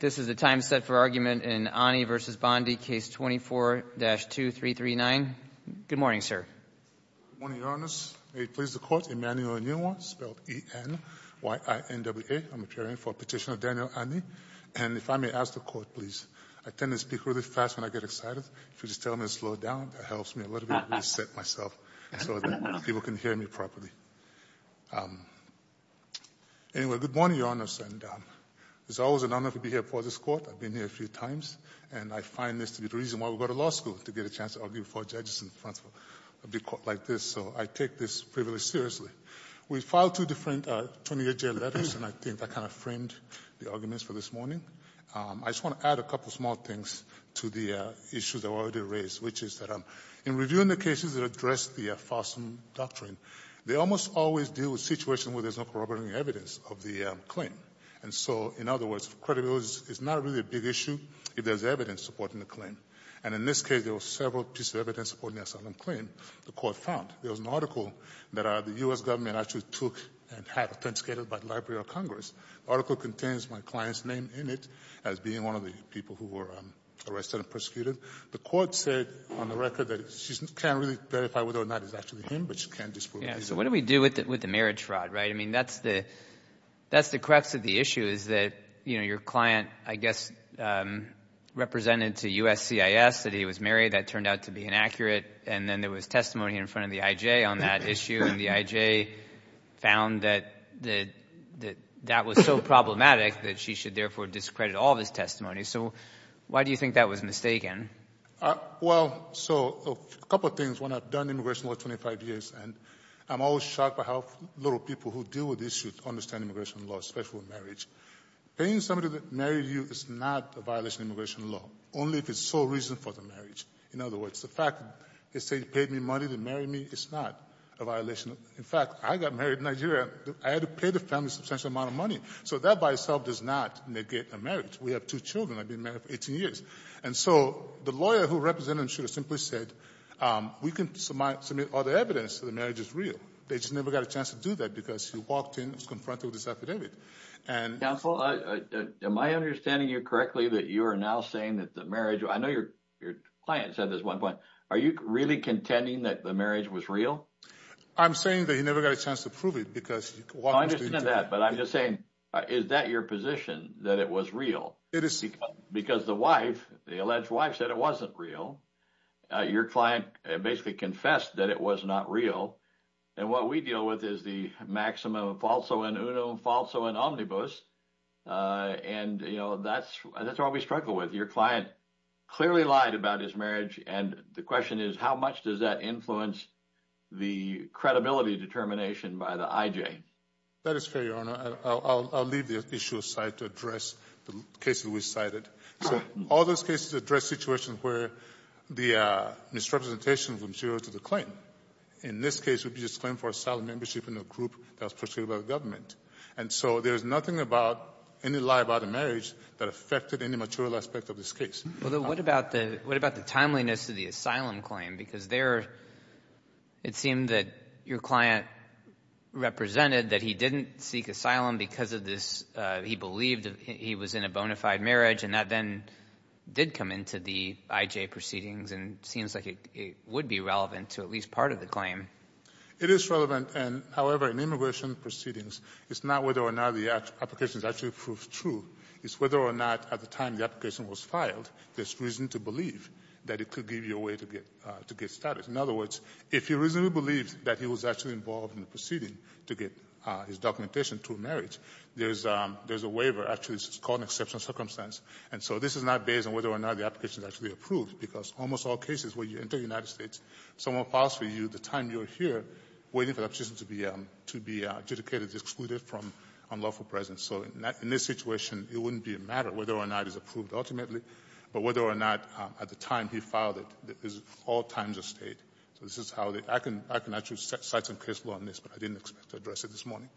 This is the time set for argument in Ani v. Bondi, Case 24-2339. Good morning, sir. Good morning, Your Honors. May it please the Court, Emmanuel Nwa, spelled E-N-Y-I-N-W-A. I'm preparing for Petitioner Daniel Ani. And if I may ask the Court, please, I tend to speak really fast when I get excited. If you just tell me to slow down, that helps me a little bit. I reset myself so that people can hear me properly. Anyway, good morning, Your Honors, and it's always an honor to be here before this Court. I've been here a few times, and I find this to be the reason why we go to law school, to get a chance to argue before judges in front of a big Court like this. So I take this privilege seriously. We filed two different 20-year jail letters, and I think that kind of framed the arguments for this morning. I just want to add a couple of small things to the issues that were already raised, which is that in reviewing the cases that address the FOSM doctrine, they almost always deal with situations where there's no corroborating evidence of the claim. And so, in other words, credibility is not really a big issue if there's evidence supporting the claim. And in this case, there were several pieces of evidence supporting the asylum claim the Court found. There was an article that the U.S. government actually took and had authenticated by the Library of Congress. The article contains my client's name in it as being one of the people who were arrested and persecuted. The Court said on the record that she can't really verify whether or not it's actually him, but she can't disprove it either. So what do we do with the marriage fraud, right? I mean, that's the crux of the issue is that, you know, your client, I guess, represented to USCIS that he was married. That turned out to be inaccurate. And then there was testimony in front of the IJ on that issue, and the IJ found that that was so problematic that she should therefore discredit all of his testimony. So why do you think that was mistaken? Well, so a couple of things. When I've done immigration law for 25 years, and I'm always shocked by how little people who deal with issues understand immigration law, especially marriage. Paying somebody to marry you is not a violation of immigration law, only if it's sole reason for the marriage. In other words, the fact that they say you paid me money to marry me is not a violation. In fact, I got married in Nigeria. I had to pay the family a substantial amount of money. So that by itself does not negate a marriage. We have two children. I've been married for 18 years. And so the lawyer who represented him should have simply said, we can submit other evidence that the marriage is real. They just never got a chance to do that because he walked in and was confronted with this affidavit. Counsel, am I understanding you correctly that you are now saying that the marriage – I know your client said this at one point. Are you really contending that the marriage was real? I'm saying that he never got a chance to prove it because – No, I understand that. But I'm just saying, is that your position, that it was real? It is. Because the wife, the alleged wife, said it wasn't real. Your client basically confessed that it was not real. And what we deal with is the maxim of falso in uno, falso in omnibus. And, you know, that's what we struggle with. Your client clearly lied about his marriage. And the question is, how much does that influence the credibility determination by the IJ? That is fair, Your Honor. I'll leave the issue aside to address the cases we cited. So all those cases address situations where the misrepresentation from zero to the claim. In this case, it would be a claim for asylum membership in a group that was pursued by the government. And so there's nothing about any lie about the marriage that affected any mature aspect of this case. What about the timeliness of the asylum claim? Because there it seemed that your client represented that he didn't seek asylum because of this. He believed he was in a bona fide marriage, and that then did come into the IJ proceedings. And it seems like it would be relevant to at least part of the claim. It is relevant. And, however, in immigration proceedings, it's not whether or not the application is actually proved true. It's whether or not at the time the application was filed there's reason to believe that it could give you a way to get status. In other words, if you reasonably believe that he was actually involved in the proceeding to get his documentation to a marriage, there's a waiver. Actually, it's called an exceptional circumstance. And so this is not based on whether or not the application is actually approved, because almost all cases where you enter the United States, someone files for you the time you're here waiting for that person to be adjudicated as excluded from unlawful presence. So in this situation, it wouldn't be a matter of whether or not it's approved ultimately, but whether or not at the time he filed it is all times of state. So this is how I can actually cite some case law on this, but I didn't expect to address it this morning.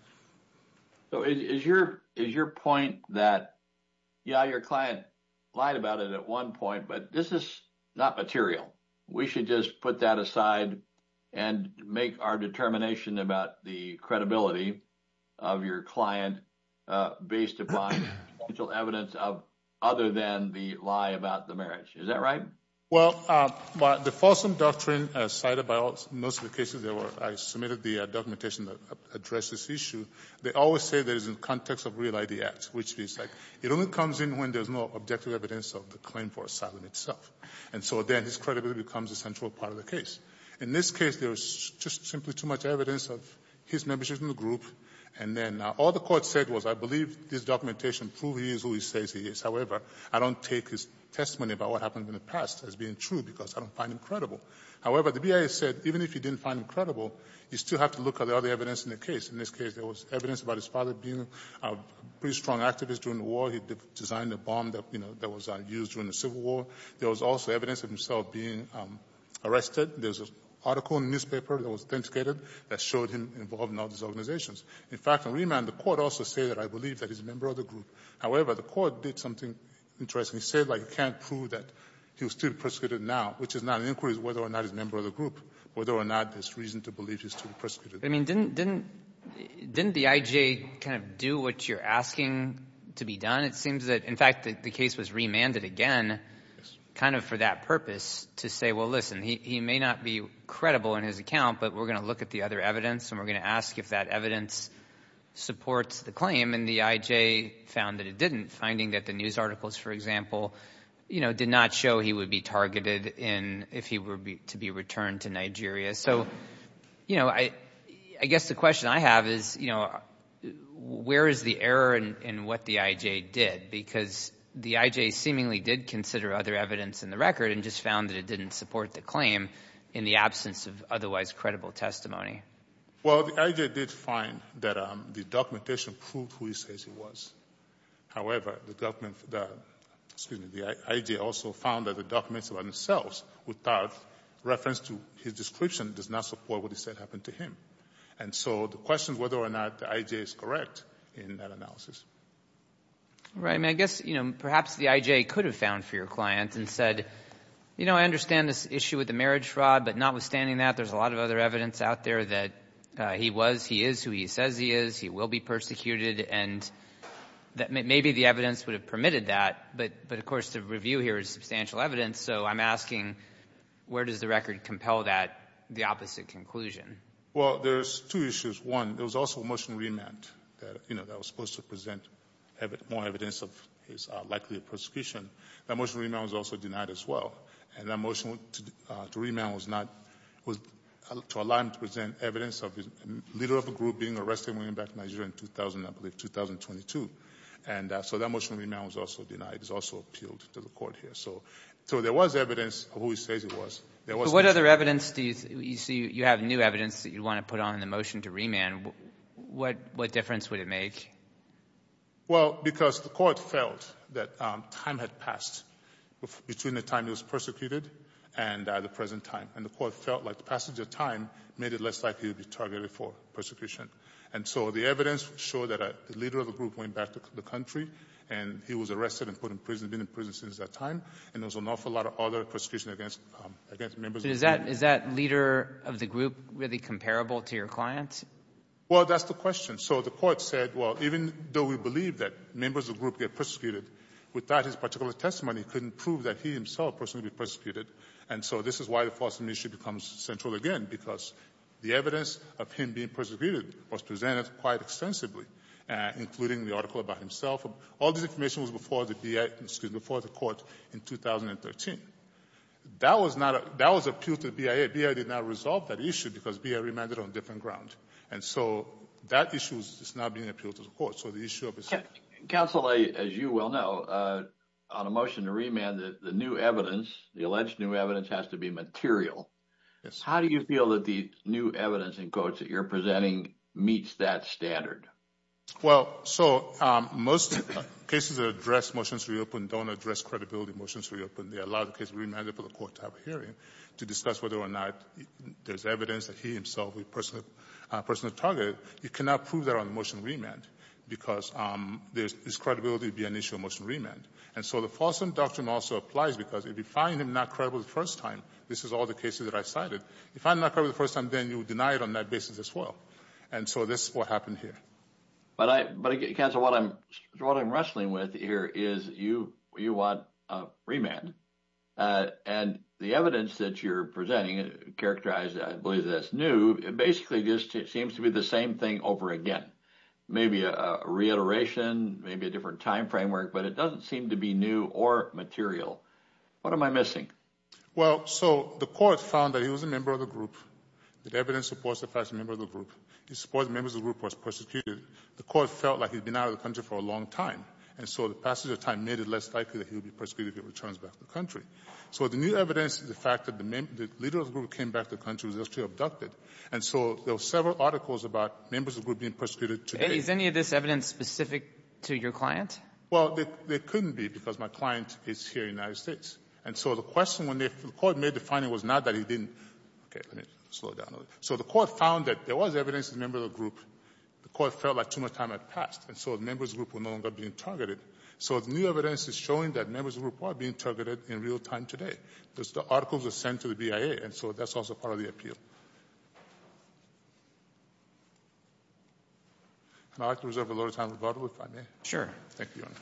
So is your point that, yeah, your client lied about it at one point, but this is not material. We should just put that aside and make our determination about the credibility of your client based upon potential evidence other than the lie about the marriage. Is that right? Well, the Folsom Doctrine cited by most of the cases I submitted the documentation to address this issue, they always say that it's in the context of real ID acts, which means it only comes in when there's no objective evidence of the claim for asylum itself. And so then his credibility becomes a central part of the case. In this case, there's just simply too much evidence of his membership in the group, and then all the Court said was I believe this documentation proves he is who he says he is. However, I don't take his testimony about what happened in the past as being true because I don't find him credible. However, the BIA said even if you didn't find him credible, you still have to look at the other evidence in the case. In this case, there was evidence about his father being a pretty strong activist during the war. He designed a bomb that, you know, that was used during the Civil War. There was also evidence of himself being arrested. There's an article in the newspaper that was authenticated that showed him involved in all these organizations. In fact, on remand, the Court also said that I believe that he's a member of the group. However, the Court did something interesting. It said, like, you can't prove that he was still persecuted now, which is not an inquiry as to whether or not he's a member of the group, whether or not there's reason to believe he's still persecuted. I mean, didn't the IJ kind of do what you're asking to be done? And it seems that, in fact, the case was remanded again kind of for that purpose to say, well, listen, he may not be credible in his account, but we're going to look at the other evidence and we're going to ask if that evidence supports the claim. And the IJ found that it didn't, finding that the news articles, for example, you know, did not show he would be targeted if he were to be returned to Nigeria. So, you know, I guess the question I have is, you know, where is the error in what the IJ did? Because the IJ seemingly did consider other evidence in the record and just found that it didn't support the claim in the absence of otherwise credible testimony. Well, the IJ did find that the documentation proved who he says he was. However, the document that the IJ also found that the documents themselves without reference to his description does not support what he said happened to him. And so the question is whether or not the IJ is correct in that analysis. Right. I mean, I guess, you know, perhaps the IJ could have found for your client and said, you know, I understand this issue with the marriage fraud, but notwithstanding that, there's a lot of other evidence out there that he was, he is who he says he is, he will be persecuted, and that maybe the evidence would have permitted that. But, of course, the review here is substantial evidence. So I'm asking, where does the record compel that, the opposite conclusion? Well, there's two issues. One, there was also a motion to remand that, you know, that was supposed to present more evidence of his likelihood of persecution. That motion to remand was also denied as well. And that motion to remand was not, was to allow him to present evidence of the leader of a group being arrested when he went back to Nigeria in 2000, I believe, 2022. And so that motion to remand was also denied. It was also appealed to the court here. So there was evidence of who he says he was. But what other evidence do you see? You have new evidence that you want to put on in the motion to remand. What difference would it make? Well, because the court felt that time had passed between the time he was persecuted and the present time, and the court felt like the passage of time made it less likely he would be targeted for persecution. And so the evidence showed that the leader of the group went back to the country and he was arrested and put in prison, been in prison since that time. And there was an awful lot of other persecution against members of the group. So is that leader of the group really comparable to your client? Well, that's the question. So the court said, well, even though we believe that members of the group get persecuted, without his particular testimony, he couldn't prove that he himself personally would be persecuted. And so this is why the false admission becomes central again, because the evidence of him being persecuted was presented quite extensively, including the article about himself. All this information was before the court in 2013. That was appealed to the BIA. BIA did not resolve that issue because BIA remanded on a different ground. And so that issue is not being appealed to the court. Counsel, as you well know, on a motion to remand, the new evidence, the alleged new evidence has to be material. How do you feel that the new evidence, in quotes, that you're presenting meets that standard? Well, so most cases that address motions to reopen don't address credibility motions to reopen. They allow the case to be remanded for the court to have a hearing to discuss whether or not there's evidence that he himself was personally targeted. You cannot prove that on a motion to remand because there's credibility to be an issue on a motion to remand. And so the false indoctrination also applies because if you find him not credible the first time, this is all the cases that I cited, if you find him not credible the first time, then you deny it on that basis as well. And so this is what happened here. But, Counsel, what I'm wrestling with here is you want a remand. And the evidence that you're presenting, characterized, I believe, as new, basically just seems to be the same thing over again. Maybe a reiteration, maybe a different time framework, but it doesn't seem to be new or material. What am I missing? Well, so the court found that he was a member of the group. The evidence supports the fact he's a member of the group. It supports members of the group who were persecuted. The court felt like he'd been out of the country for a long time, and so the passage of time made it less likely that he would be persecuted if he returns back to the country. So the new evidence is the fact that the leader of the group came back to the country and was actually abducted. And so there were several articles about members of the group being persecuted today. And is any of this evidence specific to your client? Well, there couldn't be because my client is here in the United States. And so the question, when the court made the finding, was not that he didn't come back to the country. Okay, let me slow down a little. So the court found that there was evidence that he was a member of the group. The court felt like too much time had passed, and so the members of the group were no longer being targeted. So the new evidence is showing that members of the group are being targeted in real time today. The articles are sent to the BIA, and so that's also part of the appeal. And I'd like to reserve a little time for Barbara, if I may. Sure. Thank you, Your Honor.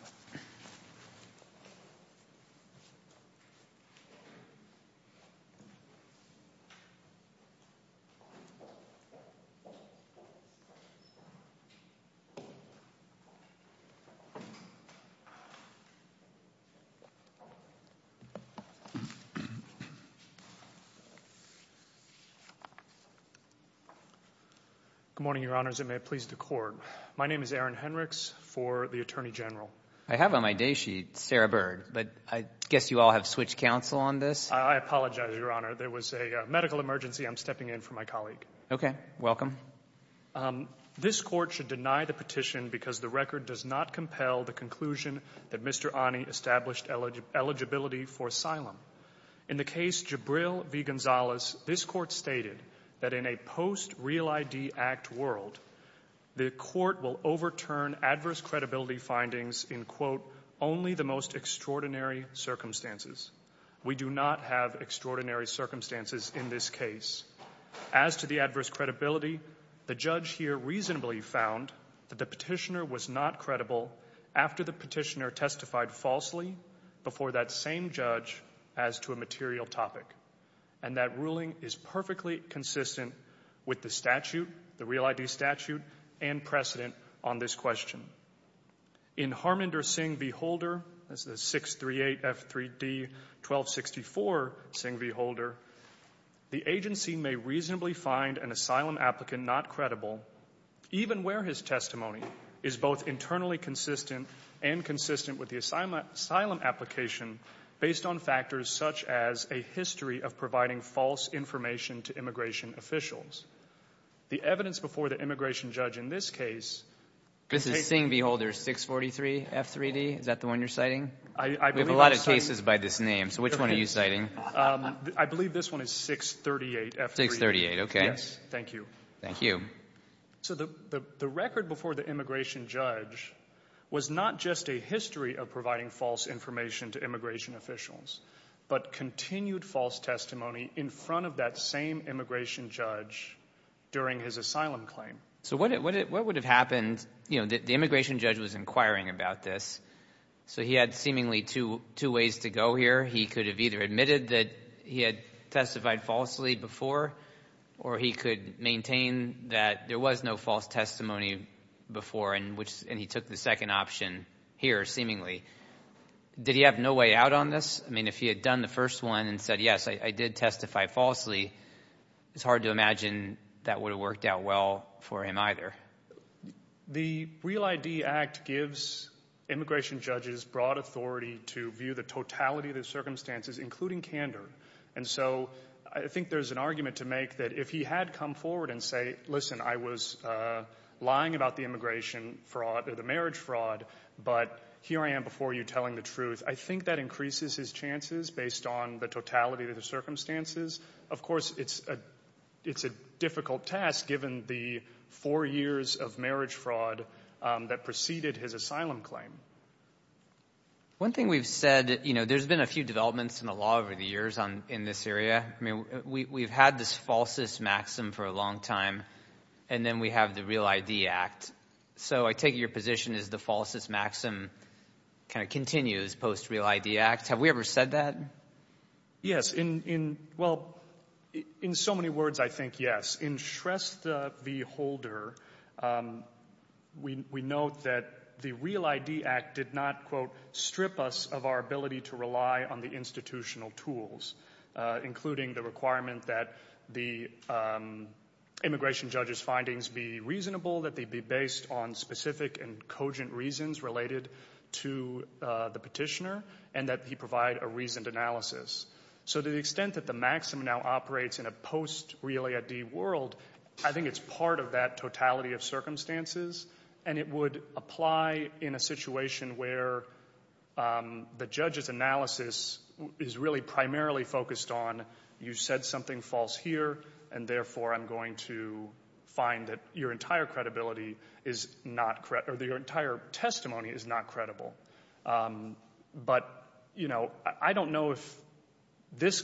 Good morning, Your Honors, and may it please the Court. My name is Aaron Henricks for the Attorney General. I have on my day sheet Sarah Bird, but I guess you all have switched counsel on this. I apologize, Your Honor. There was a medical emergency. I'm stepping in for my colleague. Okay. Welcome. This Court should deny the petition because the record does not compel the conclusion that Mr. Ani established eligibility for asylum. In the case Jabril v. Gonzalez, this Court stated that in a post-Real ID Act world, the Court will overturn adverse credibility findings in, quote, only the most extraordinary circumstances. We do not have extraordinary circumstances in this case. As to the adverse credibility, the judge here reasonably found that the petitioner was not credible after the petitioner testified falsely before that same judge as to a material topic. And that ruling is perfectly consistent with the statute, the Real ID statute, and precedent on this question. In Harminder Singh v. Holder, that's the 638F3D1264 Singh v. Holder, the agency may reasonably find an asylum applicant not credible, even where his testimony is both internally consistent and consistent with the history of providing false information to immigration officials. The evidence before the immigration judge in this case. This is Singh v. Holder 643F3D, is that the one you're citing? We have a lot of cases by this name, so which one are you citing? I believe this one is 638F3D. 638, okay. Yes, thank you. Thank you. So the record before the immigration judge was not just a history of providing false information to immigration officials, but continued false testimony in front of that same immigration judge during his asylum claim. So what would have happened, you know, the immigration judge was inquiring about this, so he had seemingly two ways to go here. He could have either admitted that he had testified falsely before, or he could maintain that there was no false testimony before, and he took the second option here, seemingly. Did he have no way out on this? I mean, if he had done the first one and said, yes, I did testify falsely, it's hard to imagine that would have worked out well for him either. The REAL ID Act gives immigration judges broad authority to view the totality of their circumstances, including candor. And so I think there's an argument to make that if he had come forward and say, listen, I was lying about the immigration fraud or the marriage fraud, but here I am before you telling the truth. I think that increases his chances based on the totality of the circumstances. Of course, it's a difficult task given the four years of marriage fraud that preceded his asylum claim. One thing we've said, you know, there's been a few developments in the law over the years in this area. I mean, we've had this Falsus Maxim for a long time, and then we have the REAL ID Act. So I take it your position is the Falsus Maxim kind of continues post-REAL ID Act. Have we ever said that? Yes. Well, in so many words, I think yes. In Shrestha v. Holder, we note that the REAL ID Act did not, quote, including the requirement that the immigration judge's findings be reasonable, that they be based on specific and cogent reasons related to the petitioner, and that he provide a reasoned analysis. So to the extent that the maxim now operates in a post-REAL ID world, I think it's part of that totality of circumstances, and it would apply in a situation where the judge's analysis is really primarily focused on you said something false here, and therefore I'm going to find that your entire credibility is not correct or that your entire testimony is not credible. But, you know, I don't know if this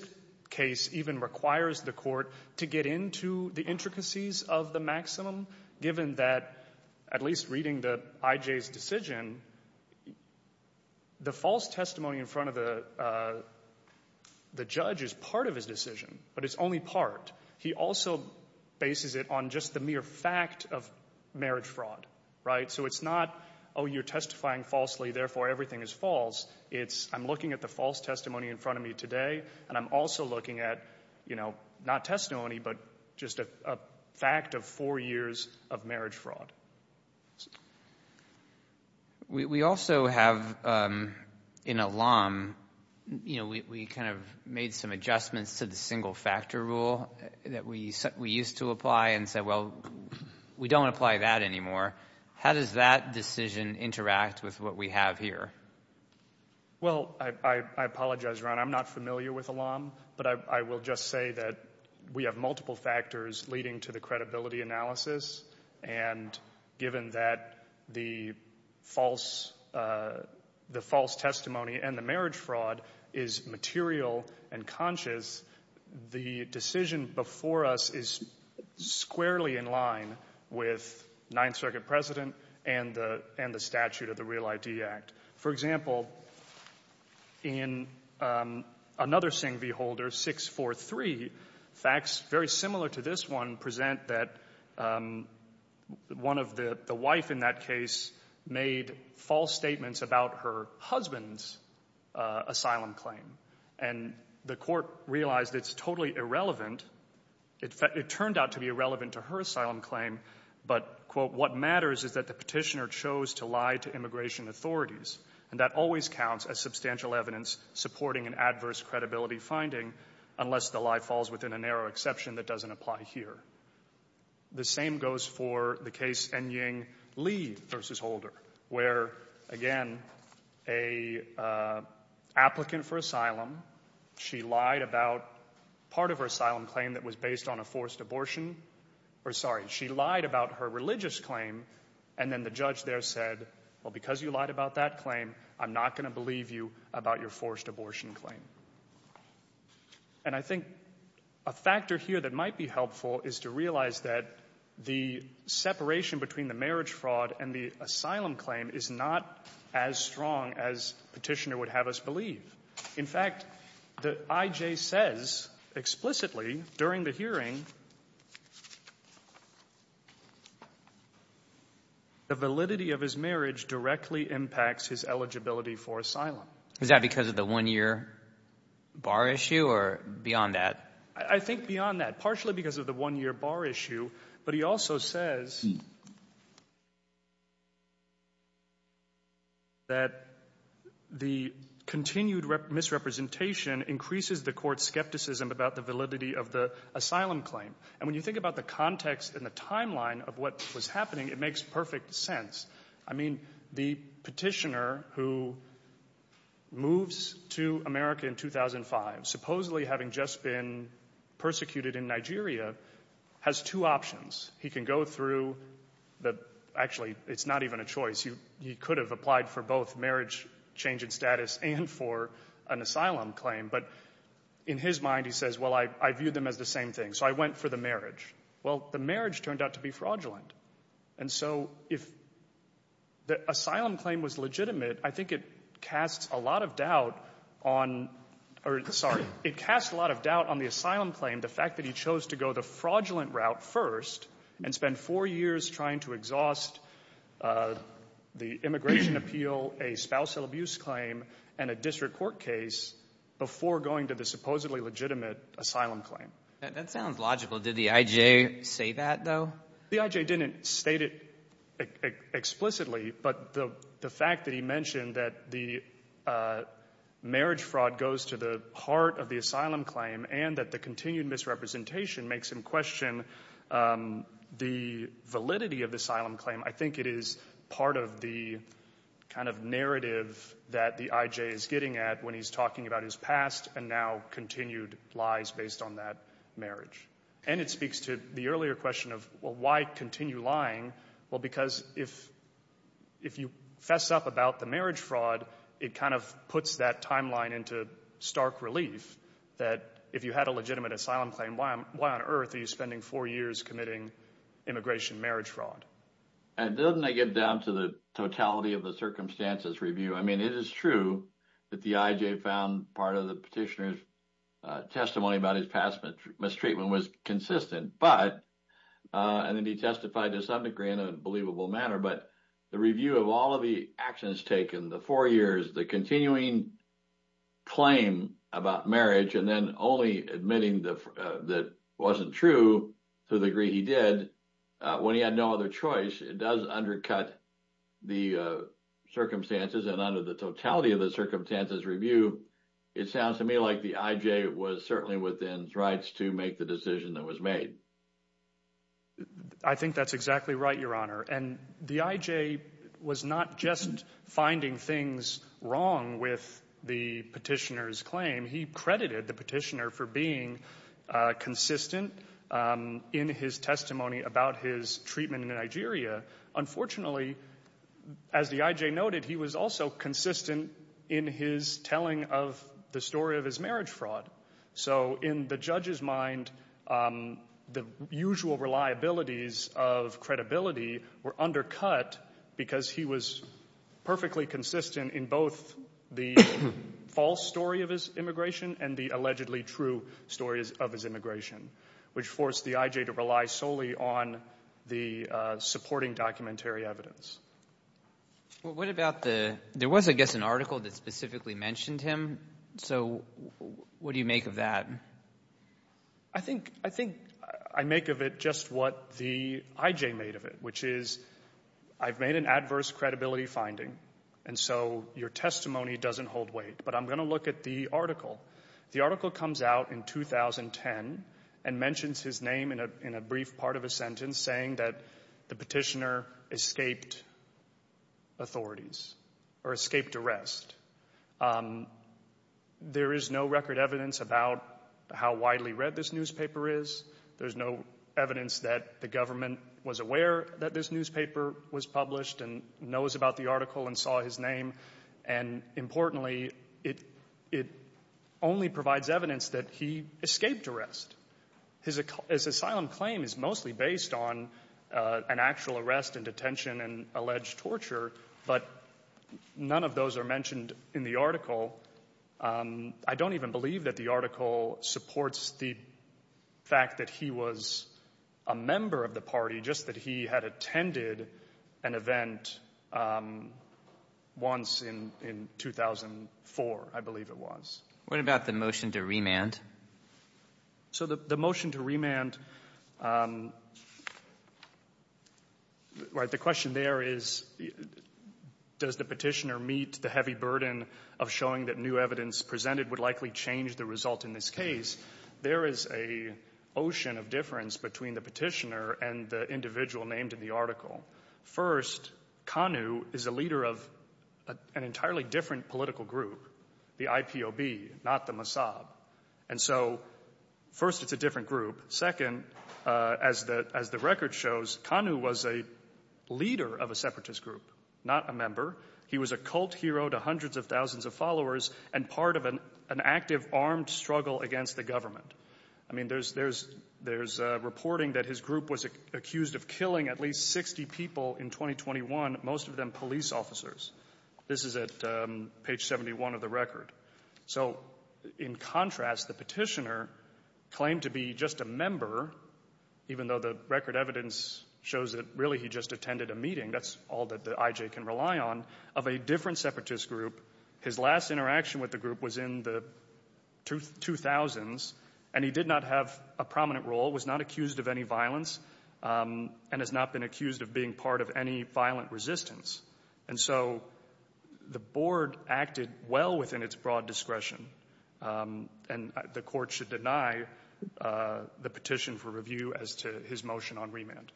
case even requires the court to get into the intricacies of the maximum, given that, at least reading the IJ's decision, the false testimony in front of the judge is part of his decision, but it's only part. He also bases it on just the mere fact of marriage fraud, right? So it's not, oh, you're testifying falsely, therefore everything is false. It's I'm looking at the false testimony in front of me today, and I'm also looking at, you know, not testimony, but just a fact of four years of marriage fraud. We also have an alum, you know, we kind of made some adjustments to the single factor rule that we used to apply and said, well, we don't apply that anymore. How does that decision interact with what we have here? Well, I apologize, Ron. I'm not familiar with alum, but I will just say that we have multiple factors leading to the credibility analysis, and given that the false testimony and the marriage fraud is material and conscious, the decision before us is squarely in line with Ninth Circuit precedent and the statute of the Real ID Act. For example, in another Singh v. Holder, 643, facts very similar to this one present that one of the wife in that case made false statements about her husband's asylum claim, and the court realized it's totally irrelevant. It turned out to be irrelevant to her asylum claim, but, quote, what matters is that the petitioner chose to lie to immigration authorities, and that always counts as substantial evidence supporting an adverse credibility finding, unless the lie falls within a narrow exception that doesn't apply here. The same goes for the case N. Ying Lee v. Holder, where, again, a applicant for asylum, she lied about part of her asylum claim that was based on a forced abortion. Or, sorry, she lied about her religious claim, and then the judge there said, well, because you lied about that claim, I'm not going to believe you about your forced abortion claim. And I think a factor here that might be helpful is to realize that the separation between the marriage fraud and the asylum claim is not as strong as Petitioner would have us believe. In fact, the IJ says explicitly during the hearing the validity of his marriage directly impacts his eligibility for asylum. Is that because of the one-year bar issue or beyond that? I think beyond that, partially because of the one-year bar issue. But he also says that the continued misrepresentation increases the Court's skepticism about the validity of the asylum claim. And when you think about the context and the timeline of what was happening, it makes perfect sense. I mean, the Petitioner who moves to America in 2005, supposedly having just been persecuted in Nigeria, has two options. He can go through the – actually, it's not even a choice. He could have applied for both marriage change in status and for an asylum claim. But in his mind, he says, well, I viewed them as the same thing, so I went for the marriage. Well, the marriage turned out to be fraudulent. And so if the asylum claim was legitimate, I think it casts a lot of doubt on – or sorry, it casts a lot of doubt on the asylum claim, the fact that he chose to go the fraudulent route first and spend four years trying to exhaust the immigration appeal, a spousal abuse claim, and a district court case before going to the supposedly legitimate asylum claim. That sounds logical. Did the IJ say that, though? The IJ didn't state it explicitly, but the fact that he mentioned that the marriage fraud goes to the heart of the asylum claim and that the continued misrepresentation makes him question the validity of the asylum claim, I think it is part of the kind of narrative that the IJ is getting at when he's talking about his past and now continued lies based on that marriage. And it speaks to the earlier question of, well, why continue lying? Well, because if you fess up about the marriage fraud, it kind of puts that timeline into stark relief that if you had a legitimate asylum claim, why on earth are you spending four years committing immigration marriage fraud? And doesn't that get down to the totality of the circumstances review? I mean, it is true that the IJ found part of the petitioner's testimony about his past mistreatment was consistent, and that he testified to some degree in a believable manner. But the review of all of the actions taken, the four years, the continuing claim about marriage, and then only admitting that wasn't true to the degree he did when he had no other choice, it does undercut the circumstances. And under the totality of the circumstances review, it sounds to me like the IJ was certainly within rights to make the decision that was made. I think that's exactly right, Your Honor. And the IJ was not just finding things wrong with the petitioner's claim. He credited the petitioner for being consistent in his testimony about his treatment in Nigeria. Unfortunately, as the IJ noted, he was also consistent in his telling of the story of his marriage fraud. So in the judge's mind, the usual reliabilities of credibility were undercut because he was perfectly consistent in both the false story of his immigration and the allegedly true stories of his immigration, which forced the IJ to rely solely on the supporting documentary evidence. Well, what about the – there was, I guess, an article that specifically mentioned him. So what do you make of that? I think I make of it just what the IJ made of it, which is I've made an adverse credibility finding, and so your testimony doesn't hold weight, but I'm going to look at the article. The article comes out in 2010 and mentions his name in a brief part of a sentence saying that the petitioner escaped authorities or escaped arrest. There is no record evidence about how widely read this newspaper is. There's no evidence that the government was aware that this newspaper was published and knows about the article and saw his name. And importantly, it only provides evidence that he escaped arrest. His asylum claim is mostly based on an actual arrest and detention and alleged torture, but none of those are mentioned in the article. I don't even believe that the article supports the fact that he was a member of the party, just that he had attended an event once in 2004, I believe it was. What about the motion to remand? So the motion to remand, the question there is does the petitioner meet the heavy burden of showing that new evidence presented would likely change the result in this case? There is an ocean of difference between the petitioner and the individual named in the article. First, Kanu is a leader of an entirely different political group, the IPOB, not the Mossad. And so first it's a different group. Second, as the record shows, Kanu was a leader of a separatist group, not a member. He was a cult hero to hundreds of thousands of followers and part of an active armed struggle against the government. I mean, there's reporting that his group was accused of killing at least 60 people in 2021, most of them police officers. This is at page 71 of the record. So in contrast, the petitioner claimed to be just a member, even though the record evidence shows that really he just attended a meeting. That's all that the IJ can rely on, of a different separatist group. His last interaction with the group was in the 2000s, and he did not have a prominent role, was not accused of any violence, and has not been accused of being part of any violent resistance. And so the Board acted well within its broad discretion, and the Court should deny the petition for review as to his motion on remand.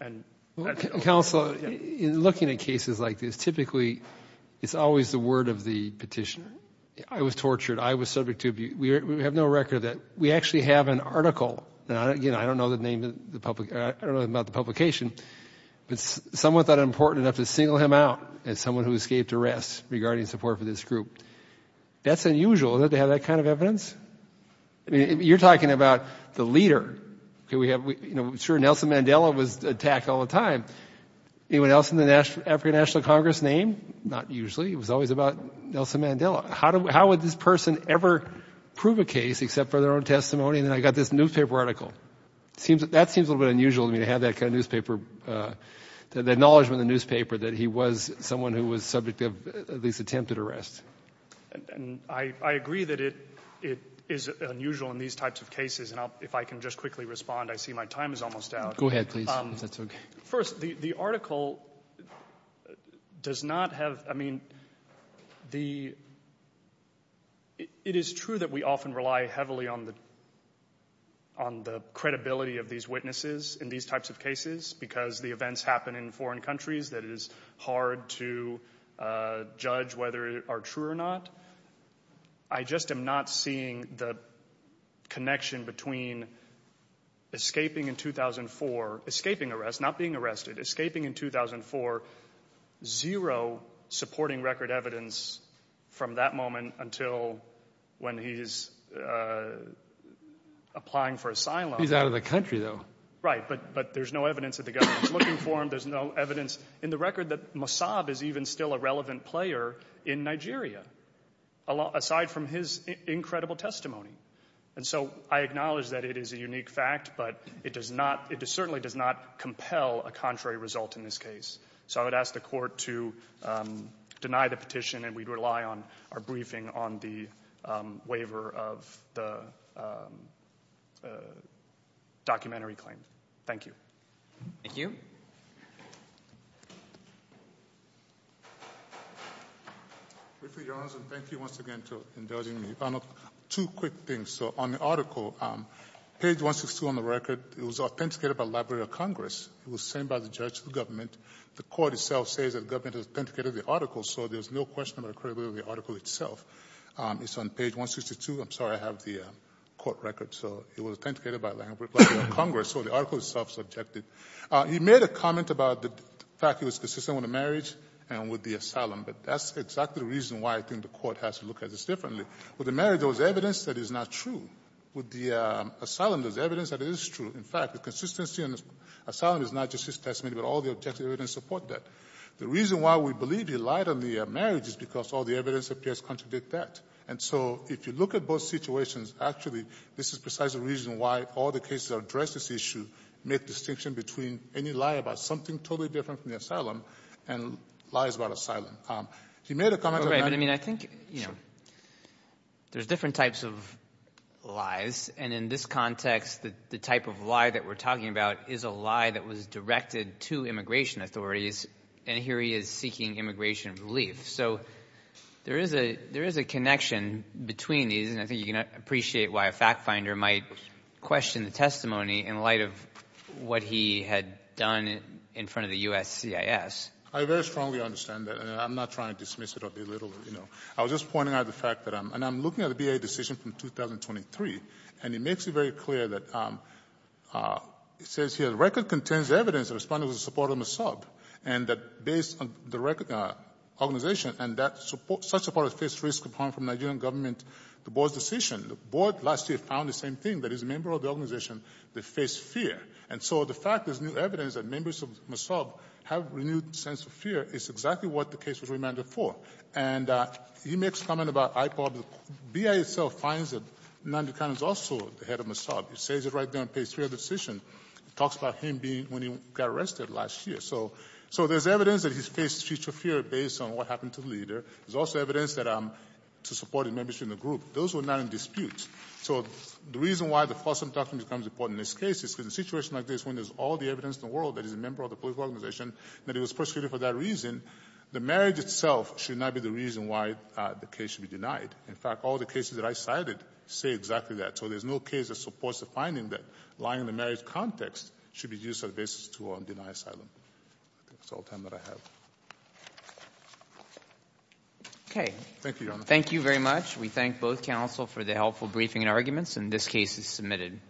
And... Counsel, in looking at cases like this, typically it's always the word of the petitioner. I was tortured. I was subject to abuse. We have no record of that. We actually have an article, and again, I don't know the name of the public, I don't know about the publication, but someone thought it important enough to single him out as someone who escaped arrest regarding support for this group. That's unusual that they have that kind of evidence. I mean, you're talking about the leader. Sure, Nelson Mandela was attacked all the time. Anyone else in the African National Congress name? Not usually. It was always about Nelson Mandela. How would this person ever prove a case except for their own testimony? And then I got this newspaper article. That seems a little bit unusual to me, to have that kind of newspaper, the acknowledgment in the newspaper that he was someone who was subject to at least attempted arrest. I agree that it is unusual in these types of cases, and if I can just quickly respond, I see my time is almost out. Go ahead, please, if that's okay. First, the article does not have – I mean, it is true that we often rely heavily on the credibility of these witnesses in these types of cases because the events happen in foreign countries that it is hard to judge whether they are true or not. I just am not seeing the connection between escaping in 2004 – escaping arrest, not being arrested – escaping in 2004, zero supporting record evidence from that moment until when he's applying for asylum. He's out of the country, though. Right, but there's no evidence that the government is looking for him. There's no evidence in the record that Mossab is even still a relevant player in Nigeria, aside from his incredible testimony. And so I acknowledge that it is a unique fact, but it does not – it certainly does not compel a contrary result in this case. So I would ask the Court to deny the petition, and we'd rely on our briefing on the waiver of the documentary claim. Thank you. Thank you. Briefly, Your Honors, and thank you once again for indulging me. Two quick things. So on the article, page 162 on the record, it was authenticated by the Library of Congress. It was sent by the judge to the government. The Court itself says that the government has authenticated the article, so there's no question about the credibility of the article itself. It's on page 162. I'm sorry I have the court record. So it was authenticated by the Library of Congress, so the article itself is objective. He made a comment about the fact he was consistent with the marriage and with the asylum, but that's exactly the reason why I think the Court has to look at this differently. With the marriage, there was evidence that it's not true. With the asylum, there's evidence that it is true. In fact, the consistency in the asylum is not just his testimony, but all the objective evidence support that. The reason why we believe he lied on the marriage is because all the evidence appears contradict that. And so if you look at both situations, actually, this is precisely the reason why all the cases that address this issue make distinction between any lie about something totally different from the asylum and lies about asylum. He made a comment about that. Right, but I mean, I think, you know, there's different types of lies, and in this case, the lie that we're talking about is a lie that was directed to immigration authorities, and here he is seeking immigration relief. So there is a connection between these, and I think you can appreciate why a fact-finder might question the testimony in light of what he had done in front of the U.S. CIS. I very strongly understand that, and I'm not trying to dismiss it or belittle it, you know. I was just pointing out the fact that I'm — and I'm looking at a B.A. decision from 2023, and it makes it very clear that it says here, the record contains evidence that respondents were supportive of MASAB, and that based on the organization and that such a party faced risk of harm from Nigerian government, the board's decision. The board last year found the same thing, that it's a member of the organization that faced fear. And so the fact there's new evidence that members of MASAB have renewed sense of fear is exactly what the case was remanded for. And he makes a comment about IPOC. The B.A. itself finds that Nandu Khan is also the head of MASAB. It says it right there on page 3 of the decision. It talks about him being — when he got arrested last year. So there's evidence that he's faced future fear based on what happened to the leader. There's also evidence that — to supporting members in the group. Those were not in dispute. So the reason why the FOSM doctrine becomes important in this case is because in a situation like this, when there's all the evidence in the world that he's a member of the political organization, that he was persecuted for that reason, the marriage itself should not be the reason why the case should be denied. In fact, all the cases that I cited say exactly that. So there's no case that supports the finding that lying in the marriage context should be used as a basis to deny asylum. That's all the time that I have. Okay. Thank you, Your Honor. Thank you very much. We thank both counsel for the helpful briefing and arguments. And this case is submitted.